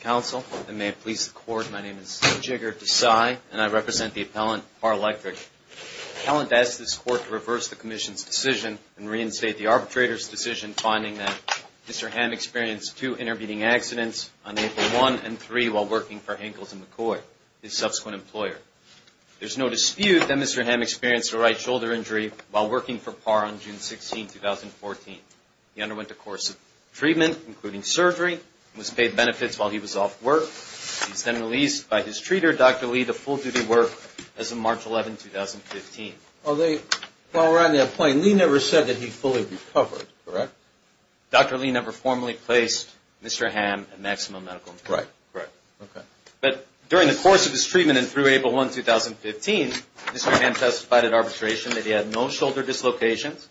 Council, and may it please the Court, my name is Jigar Desai and I represent the Appellant Parr Electric. The Appellant asks this Court to reverse the Commission's decision and reinstate the arbitrator's decision finding that Mr. Hamm experienced two intervening accidents on April 1 and 3 while working for Henkels & McCoy, his subsequent employer. There is no dispute that Mr. Hamm experienced a right shoulder injury while working for Parr on June 16, 2014. He underwent a course of treatment, including surgery, and was paid benefits while he was off work. He was then released by his treater, Dr. Lee, to full duty work as of March 11, 2015. While we're on that point, Lee never said that he fully recovered, correct? Dr. Lee never formally placed Mr. Hamm in maximum medical care. Right. Right. Okay. But during the course of his treatment and through April 1, 2015, Mr. Hamm testified at arbitration that he had no shoulder dislocations,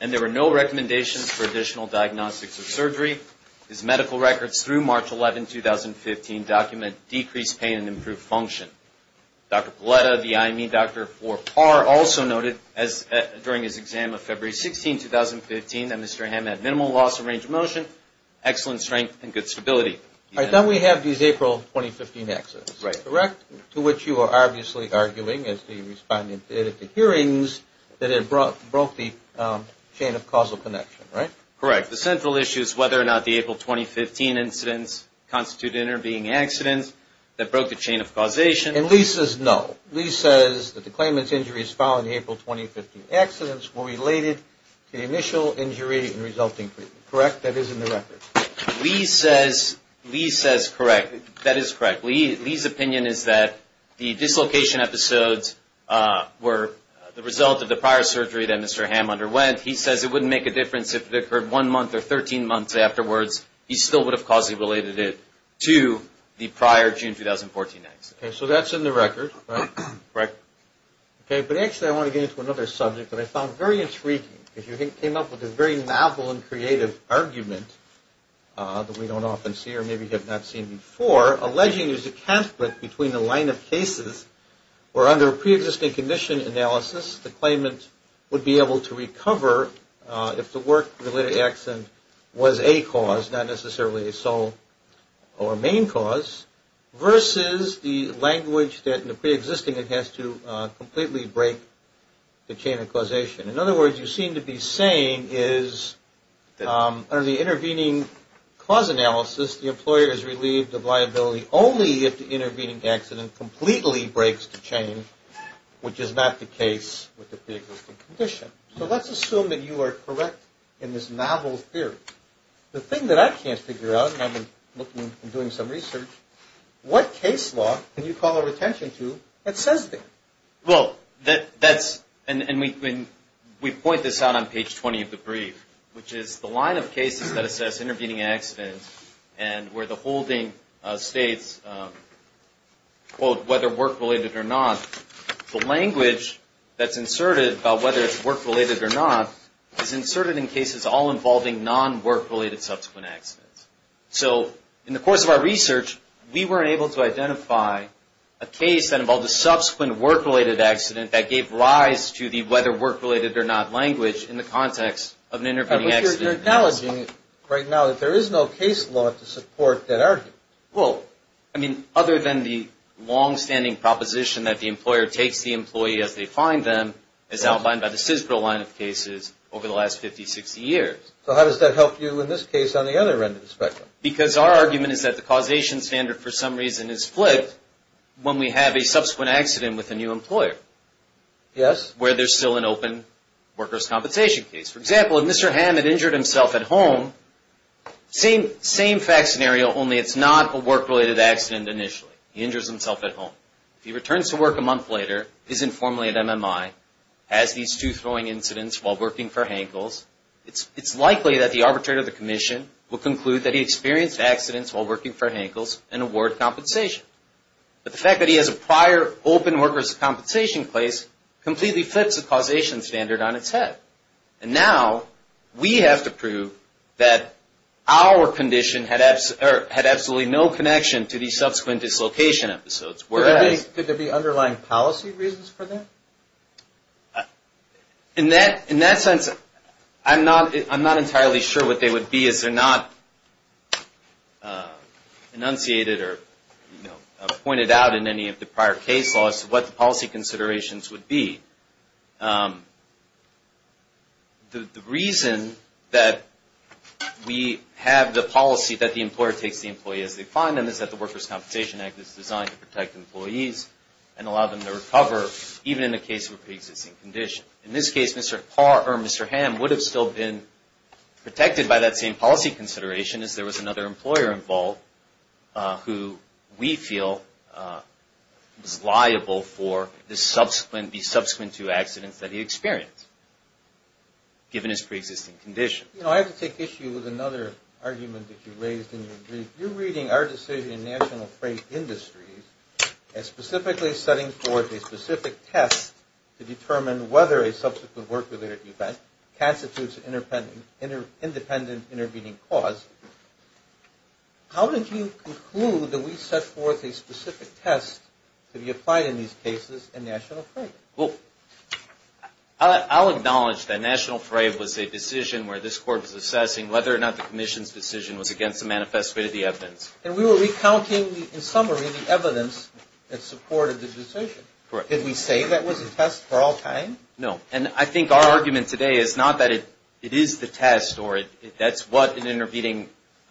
and there were no recommendations for additional diagnostics or surgery. His medical records through March 11, 2015, document decreased pain and improved function. Dr. Palletta, the IME doctor for Parr, also noted during his exam of February 16, 2015, that Mr. Hamm had minimal loss of range of motion, excellent strength, and good stability. All right. Then we have these April 2015 accidents, correct, to which you are obviously arguing, as the respondent did at the hearings, that it broke the chain of causal connection, right? Correct. The central issue is whether or not the April 2015 incidents constituted intervening accidents that broke the chain of causation. And Lee says no. Lee says that the claimant's injuries following the April 2015 accidents were related to the initial injury and resulting treatment, correct? That is in the record. Lee says correct. That is correct. Lee's opinion is that the dislocation episodes were the result of the prior surgery that Mr. Hamm underwent. He says it wouldn't make a difference if it occurred one month or 13 months afterwards. He still would have causally related it to the prior June 2014 accident. Okay. So that's in the record, right? Correct. Okay. But actually I want to get into another subject that I found very intriguing. If you came up with this very novel and creative argument that we don't often see or maybe have not seen before, alleging there's a conflict between the line of cases where under a pre-existing condition analysis the claimant would be able to recover if the work-related accident was a cause, not necessarily a sole or main cause, versus the language that in the pre-existing it has to completely break the chain of causation. In other words, you seem to be saying is under the intervening cause analysis the employer is relieved of liability only if the intervening accident completely breaks the chain, which is not the case with the pre-existing condition. So let's assume that you are correct in this novel theory. The thing that I can't figure out, and I've been looking and doing some research, what case law can you call our attention to that says that? Well, that's, and we point this out on page 20 of the brief, which is the line of cases that assess intervening accidents and where the holding states, quote, whether work-related or not, the language that's inserted about whether it's work-related or not is inserted in cases all involving non-work-related subsequent accidents. So in the course of our research, we weren't able to identify a case that involved a subsequent work-related accident that gave rise to the whether work-related or not language in the context of an intervening accident. But you're acknowledging right now that there is no case law to support that argument. Well, I mean, other than the long-standing proposition that the employer takes the employee as they find them, as outlined by the CISBRO line of cases over the last 50, 60 years. So how does that help you in this case on the other end of the spectrum? Because our argument is that the causation standard for some reason is flipped when we have a subsequent accident with a new employer where there's still an open workers' compensation case. For example, if Mr. Hammett injured himself at home, same fact scenario, only it's not a work-related accident initially. He injures himself at home. If he returns to work a month later, is informally at MMI, has these two throwing incidents while working for Hankel's, it's likely that the arbitrator of the commission will conclude that he experienced accidents while working for Hankel's and award compensation. But the fact that he has a prior open workers' compensation case completely flips the causation standard on its head. And now, we have to prove that our condition had absolutely no connection to the subsequent dislocation episodes, whereas... Could there be underlying policy reasons for that? In that sense, I'm not entirely sure what they would be as they're not enunciated or in any of the prior case laws what the policy considerations would be. The reason that we have the policy that the employer takes the employee as they find them is that the Workers' Compensation Act is designed to protect employees and allow them to recover even in the case of a pre-existing condition. In this case, Mr. Parr or Mr. Hamm would have still been protected by that same policy consideration as there was another employer involved who we feel is liable for the subsequent two accidents that he experienced given his pre-existing condition. You know, I have to take issue with another argument that you raised in your brief. You're reading our decision in National Freight Industries as specifically setting forth a specific test to determine whether a subsequent work-related event constitutes an independent intervening cause. How did you conclude that we set forth a specific test to be applied in these cases in National Freight? I'll acknowledge that National Freight was a decision where this Court was assessing whether or not the Commission's decision was against the manifest way of the evidence. And we were recounting, in summary, the evidence that supported the decision. Did we say that was a test for all time? No. And I think our argument today is not that it is the test or that's what an intervening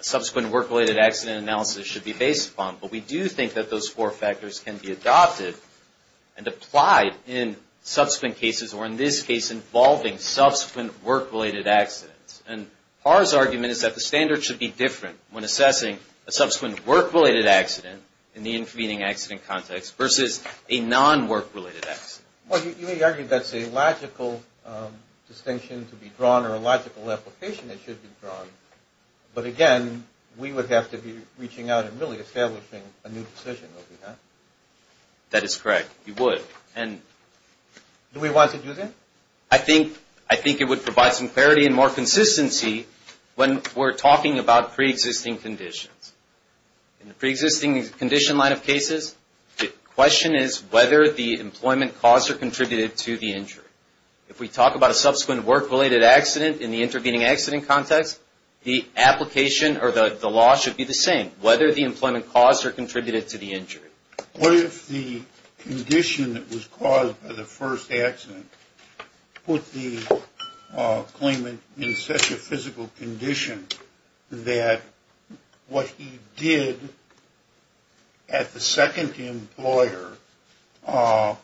subsequent work-related accident analysis should be based upon. But we do think that those four factors can be adopted and applied in subsequent cases or in this case involving subsequent work-related accidents. And Parr's argument is that the standard should be different when assessing a subsequent work-related accident in the intervening accident context versus a non-work-related accident. Well, you may argue that's a logical distinction to be drawn or a logical application that should be drawn. But again, we would have to be reaching out and really establishing a new decision, would we not? That is correct. You would. Do we want to do that? I think it would provide some clarity and more consistency when we're talking about pre-existing conditions. In the pre-existing condition line of cases, the question is whether the employment cause or contributed to the injury. If we talk about a subsequent work-related accident in the intervening accident context, the application or the law should be the same, whether the employment cause or contributed to the injury. What if the condition that was caused by the first accident put the claimant in such a physical condition that what he did at the second employer was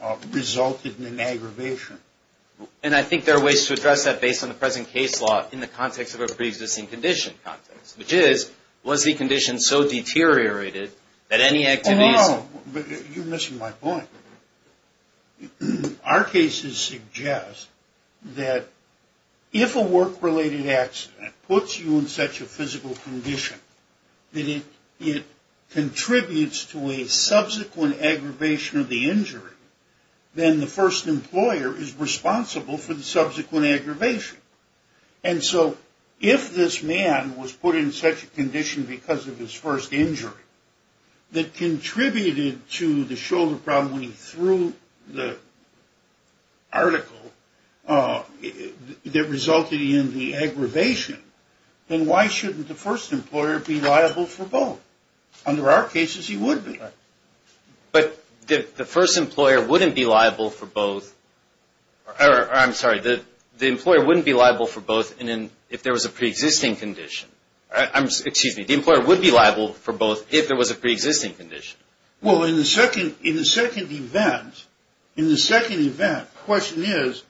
a physical injury? And I think there are ways to address that based on the present case law in the context of a pre-existing condition context, which is, was the condition so deteriorated that any activities... Oh, no. You're missing my point. Our cases suggest that if a work-related accident puts you in such a physical condition that it contributes to a subsequent aggravation of the injury then the first employer is responsible for the subsequent aggravation. And so if this man was put in such a condition because of his first injury that contributed to the shoulder problem when he threw the article that resulted in the aggravation, then why shouldn't the first employer be liable for both? Under our cases, he would be liable. But the first employer wouldn't be liable for both, or I'm sorry, the employer wouldn't be liable for both if there was a pre-existing condition. Excuse me, the employer would be liable for both if there was a pre-existing condition. Well, in the second event, the question is,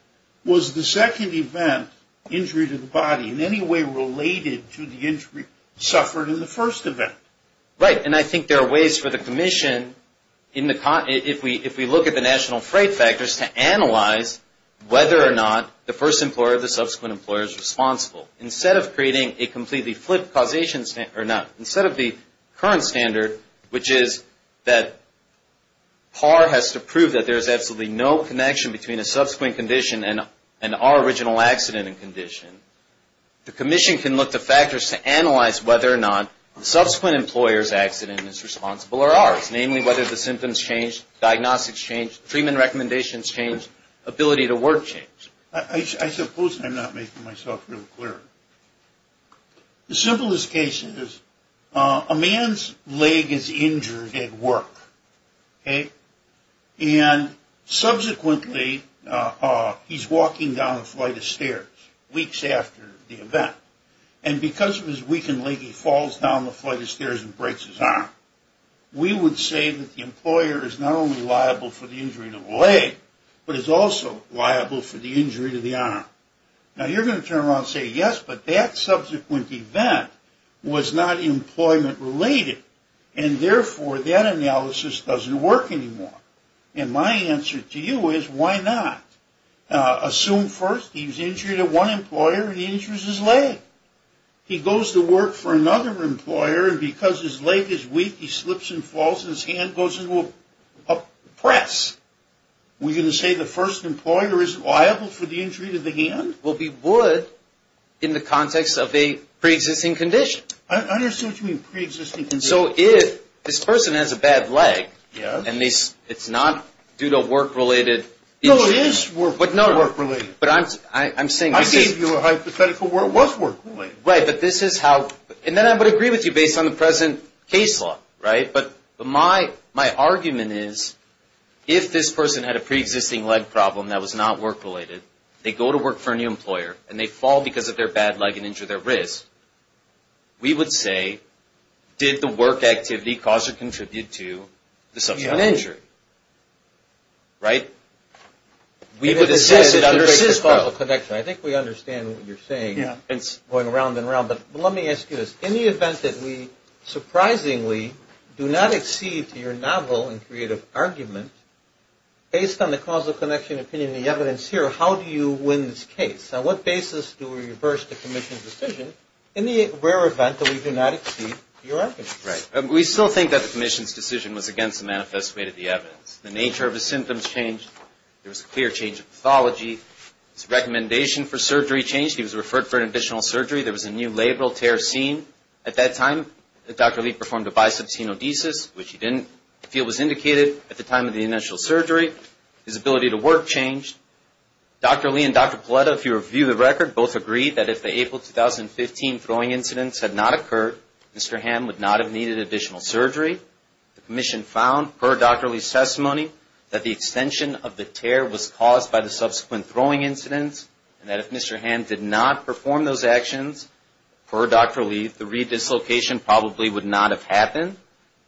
was the second event, injury to the body, in any way related to the injury suffered in the first event? Right, and I think there are ways for the Commission, if we look at the national freight factors, to analyze whether or not the first employer or the subsequent employer is responsible. Instead of creating a completely flipped causation standard, or not, instead of the current standard, which is that PAR has to prove that there is absolutely no connection between a subsequent condition and our original accident and condition, the Commission can look to factors to analyze whether or not the subsequent employer's accident is responsible or ours, namely whether the symptoms change, diagnostics change, treatment recommendations change, ability to work change. I suppose I'm not making myself real clear. The simplest case is a man's leg is injured at work, okay, and subsequently he's walking down a flight of stairs weeks after the event. And because of his weakened leg, he falls down the flight of stairs and breaks his arm. We would say that the employer is not only liable for the injury to the leg, but is also liable for the injury to the arm. Now, you're going to turn around and say, yes, but that subsequent event was not employment related, and therefore, that analysis doesn't work anymore. And my answer to you is, why not? Assume first he's injured at one employer, and he injures his leg. He goes to work for another employer, and because his leg is weak, he slips and falls, and his hand goes into a press. We're going to say the first employer is liable for the injury to the hand? Well, we would in the context of a preexisting condition. I understand what you mean, preexisting condition. And so if this person has a bad leg, and it's not due to a work-related injury. No, it is work-related. But I'm saying this is. I gave you a hypothetical where it was work-related. Right, but this is how. And then I would agree with you based on the present case law, right? But my argument is, if this person had a preexisting leg problem that was not work-related, they go to work for a new employer, and they fall because of their bad leg and injure their wrist, we would say, did the work activity cause or contribute to the substantial injury? Right? We would assess it under CISCO. I think we understand what you're saying, going around and around. But let me ask you this. In the event that we surprisingly do not accede to your novel and creative argument, based on the causal connection, opinion, and the evidence here, how do you win this case? On what basis do we reverse the commission's decision in the rare event that we do not accede to your argument? Right. We still think that the commission's decision was against the manifest way to the evidence. The nature of his symptoms changed. There was a clear change of pathology. His recommendation for surgery changed. He was referred for an additional surgery. There was a new labral tear seen. At that time, Dr. Lee performed a bicep stenodesis, which he didn't feel was indicated at the time of the initial surgery. His ability to work changed. Dr. Lee and Dr. Paletta, if you review the record, both agree that if the April 2015 throwing incidents had not occurred, Mr. Hamm would not have needed additional surgery. The commission found, per Dr. Lee's testimony, that the extension of the tear was caused by the subsequent throwing incidents, and that if Mr. Hamm did not perform those actions, per Dr. Lee, the re-dislocation probably would not have happened.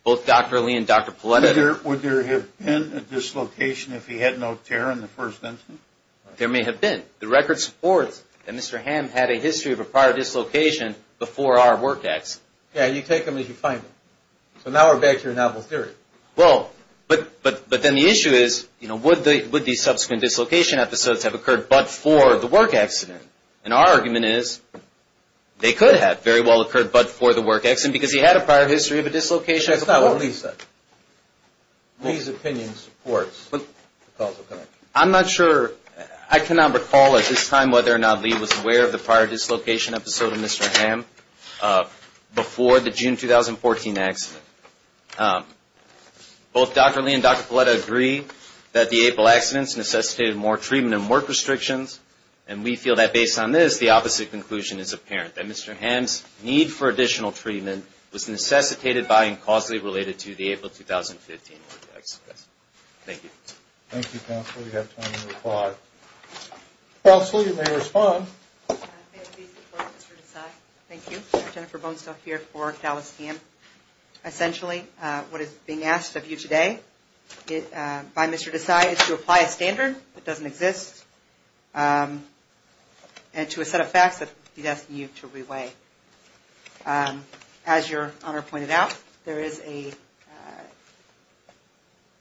Both Dr. Lee and Dr. Paletta. Would there have been a dislocation if he had no tear in the first incident? There may have been. The record supports that Mr. Hamm had a history of a prior dislocation before our work accident. Yeah, you take them as you find them. So now we're back to your novel theory. Well, but then the issue is, would the subsequent dislocation episodes have occurred but for the work accident? And our argument is, they could have very well occurred but for the work accident because he had a prior history of a dislocation. That's not what Lee said. Lee's opinion supports the causal connection. I'm not sure. I cannot recall at this time whether or not Lee was aware of the prior dislocation episode of Mr. Hamm before the June 2014 accident. Both Dr. Lee and Dr. Paletta agree that the April accidents necessitated more treatment and work restrictions, and we feel that based on this, the opposite conclusion is apparent, that Mr. Hamm's need for additional treatment was necessitated by and causally related to the April 2015 work accident. Thank you. Thank you, counsel. We have time to reply. Counsel, you may respond. Thank you. Jennifer Bonestell here for Dallas CAMP. Essentially, what is being asked of you today by Mr. Desai is to apply a standard that doesn't exist and to a set of facts that he's asking you to re-weigh. As your honor pointed out,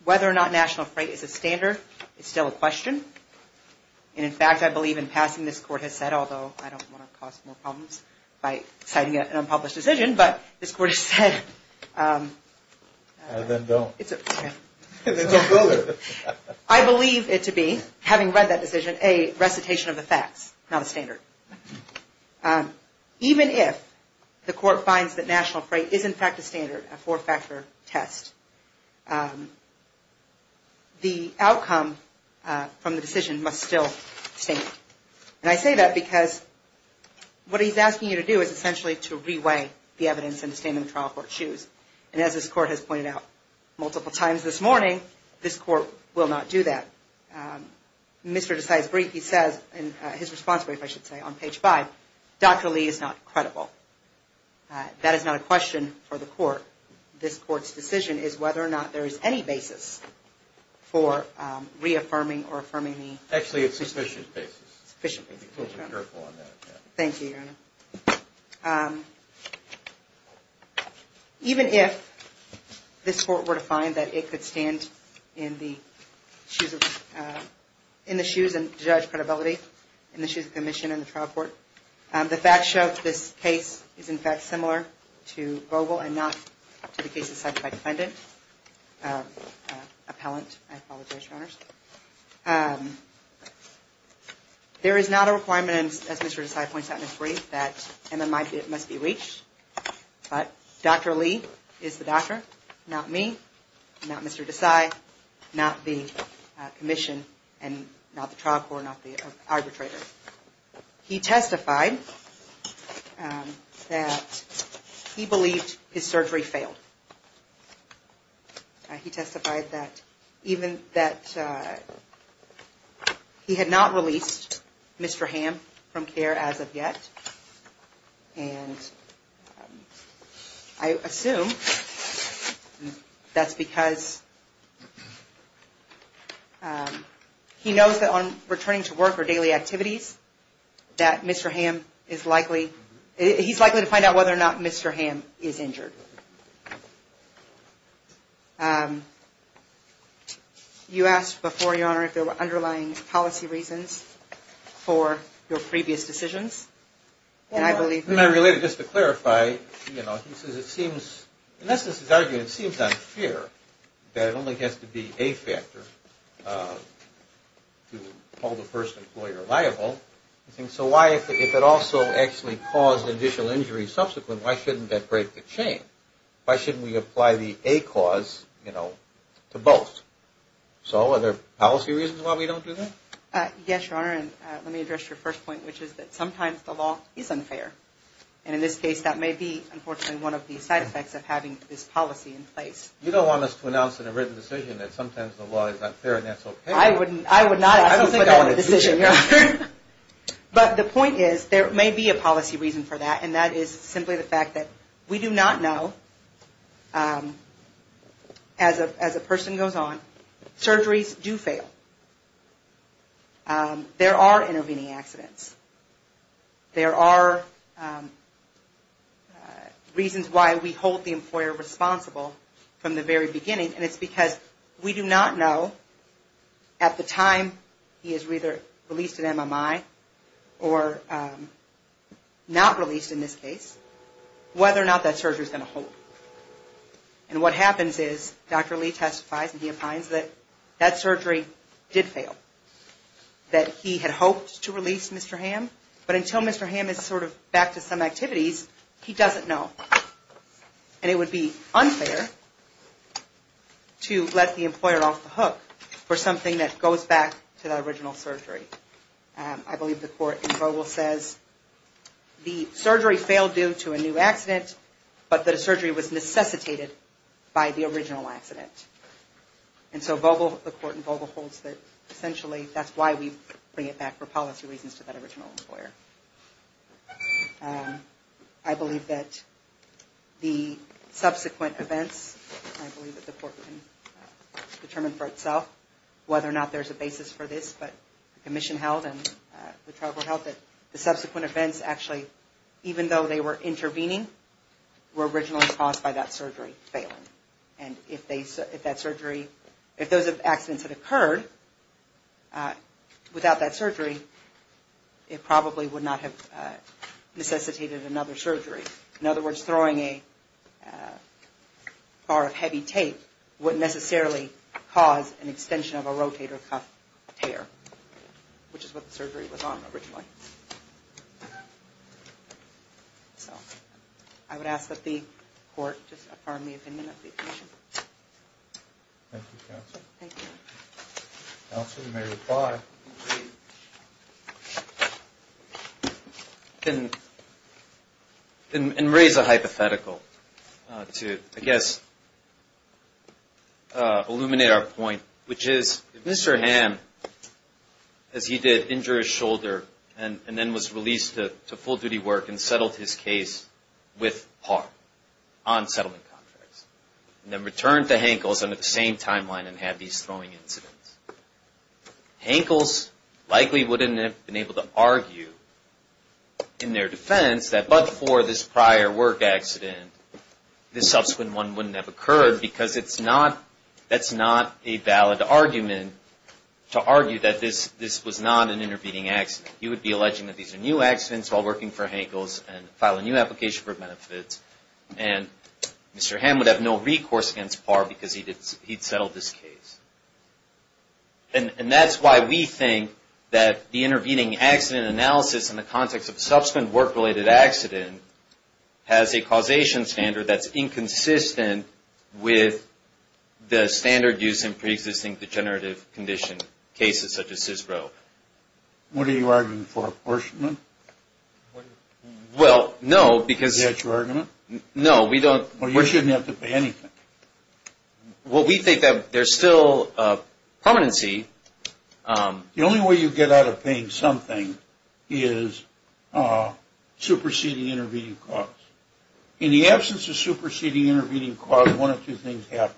whether or not national freight is a standard is still a question. In fact, I believe in passing, this court has said, although I don't want to cause more problems by citing an unpublished decision, but this court has said... Then don't. Then don't go there. I believe it to be, having read that decision, a recitation of the facts, not a standard. Even if the court finds that national freight is in fact a standard, a four-factor test, the outcome from the decision must still stand. And I say that because what he's asking you to do is essentially to re-weigh the evidence and to stand in the trial court's shoes. And as this court has pointed out multiple times this morning, this court will not do that. Mr. Desai's brief, he says in his response brief, I should say, on page five, Dr. Lee is not credible. That is not a question for the court. This court's decision is whether or not there is any basis for reaffirming or affirming the... Actually, it's sufficient basis. Sufficient basis. Be careful on that. Thank you, your honor. Even if this court were to find that it could stand in the shoes of, in the shoes of judge credibility, in the shoes of the commission and the trial court, the facts show that this case is in fact similar to Vogel and not to the case decided by defendant, appellant, I apologize, your honors. There is not a requirement, as Mr. Desai points out in his brief, that MMI must be reached. But Dr. Lee is the doctor, not me, not Mr. Desai, not the commission, and not the trial court, not the arbitrator. He testified that he believed his surgery failed. He testified that even that he had not released Mr. Hamm from care as of yet. And I assume that's because he knows that on returning to work or daily activities that Mr. Hamm is likely, he's likely to find out whether or not Mr. Hamm is injured. You asked before, your honor, if there were underlying policy reasons for your previous decisions. And I believe that... And I related just to clarify, you know, he says it seems, in essence his argument seems unfair that it only has to be a factor to hold the first employer liable. So why, if it also actually caused additional injury subsequent, why shouldn't that break the chain? Why shouldn't we apply the A cause, you know, to both? So are there policy reasons why we don't do that? Yes, your honor, and let me address your first point, which is that sometimes the law is unfair. And in this case, that may be, unfortunately, one of the side effects of having this policy in place. You don't want us to announce in a written decision that sometimes the law is unfair and that's okay. I would not... I don't think I want a decision, your honor. But the point is, there may be a policy reason for that, and that is simply the fact that we do not know, as a person goes on, surgeries do fail. There are intervening accidents. There are reasons why we hold the employer responsible from the very beginning, and it's because we do not know, at the time he is either released at MMI or not released in this case, whether or not that surgery is going to hold. And what happens is, Dr. Lee testifies and he opines that that surgery did fail, that he had hoped to release Mr. Hamm, but until Mr. Hamm is sort of back to some activities, he doesn't know. And it would be unfair to let the employer off the hook for something that goes back to the original surgery. I believe the court in Vogel says the surgery failed due to a new accident, but the surgery was necessitated by the original accident. And so Vogel, the court in Vogel, holds that essentially that's why we bring it back for policy reasons to that original employer. I believe that the subsequent events, I believe that the court can determine for itself whether or not there's a basis for this, but the commission held and the tribal held that the subsequent events actually, even though they were intervening, were originally caused by that surgery failing. And if that surgery, if those accidents had occurred without that surgery, it probably would not have necessitated another surgery. In other words, throwing a bar of heavy tape wouldn't necessarily cause an extension of a rotator cuff tear, which is what the surgery was on originally. So I would ask that the court just affirm the opinion of the commission. Thank you, Counsel. Counsel, you may reply. And raise a hypothetical to, I guess, illuminate our point, which is if Mr. Hamm, as he did, injured his shoulder, and then was released to full-duty work and settled his case with par on settlement contracts, and then returned to Hankles under the same timeline and had these throwing incidents, Hankles likely wouldn't have been able to argue in their defense that but for this prior work accident, this subsequent one wouldn't have occurred, because it's not, that's not a valid argument to argue that this was not an intervening accident. He would be alleging that these are new accidents while working for Hankles and file a new application for benefits, and Mr. Hamm would have no recourse against par because he'd settled this case. And that's why we think that the intervening accident analysis in the context of a subsequent work-related accident has a causation standard that's inconsistent with the standard used in preexisting degenerative condition cases such as CISPRO. What are you arguing for, apportionment? Well, no, because... Is that your argument? No, we don't... Well, you shouldn't have to pay anything. Well, we think that there's still a permanency... The only way you get out of paying something is superseding intervening cause. In the absence of superseding intervening cause, one of two things happens.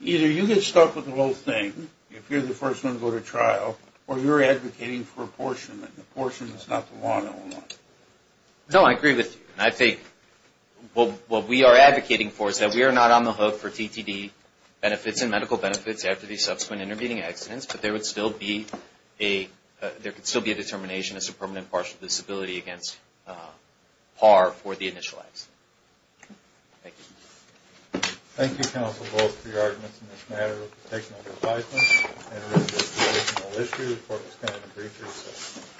Either you get stuck with the whole thing, if you're the first one to go to trial, or you're advocating for apportionment. Apportionment is not the one and only. No, I agree with you. And I think what we are advocating for is that we are not on the hook for TTD benefits and medical benefits after these subsequent intervening accidents, but there would still be a... There could still be a determination as to permanent partial disability against par for the initial accident. Thank you. Thank you, counsel, both for your arguments in this matter of the technical advisement. And this is a conditional issue. The court is going to debrief you.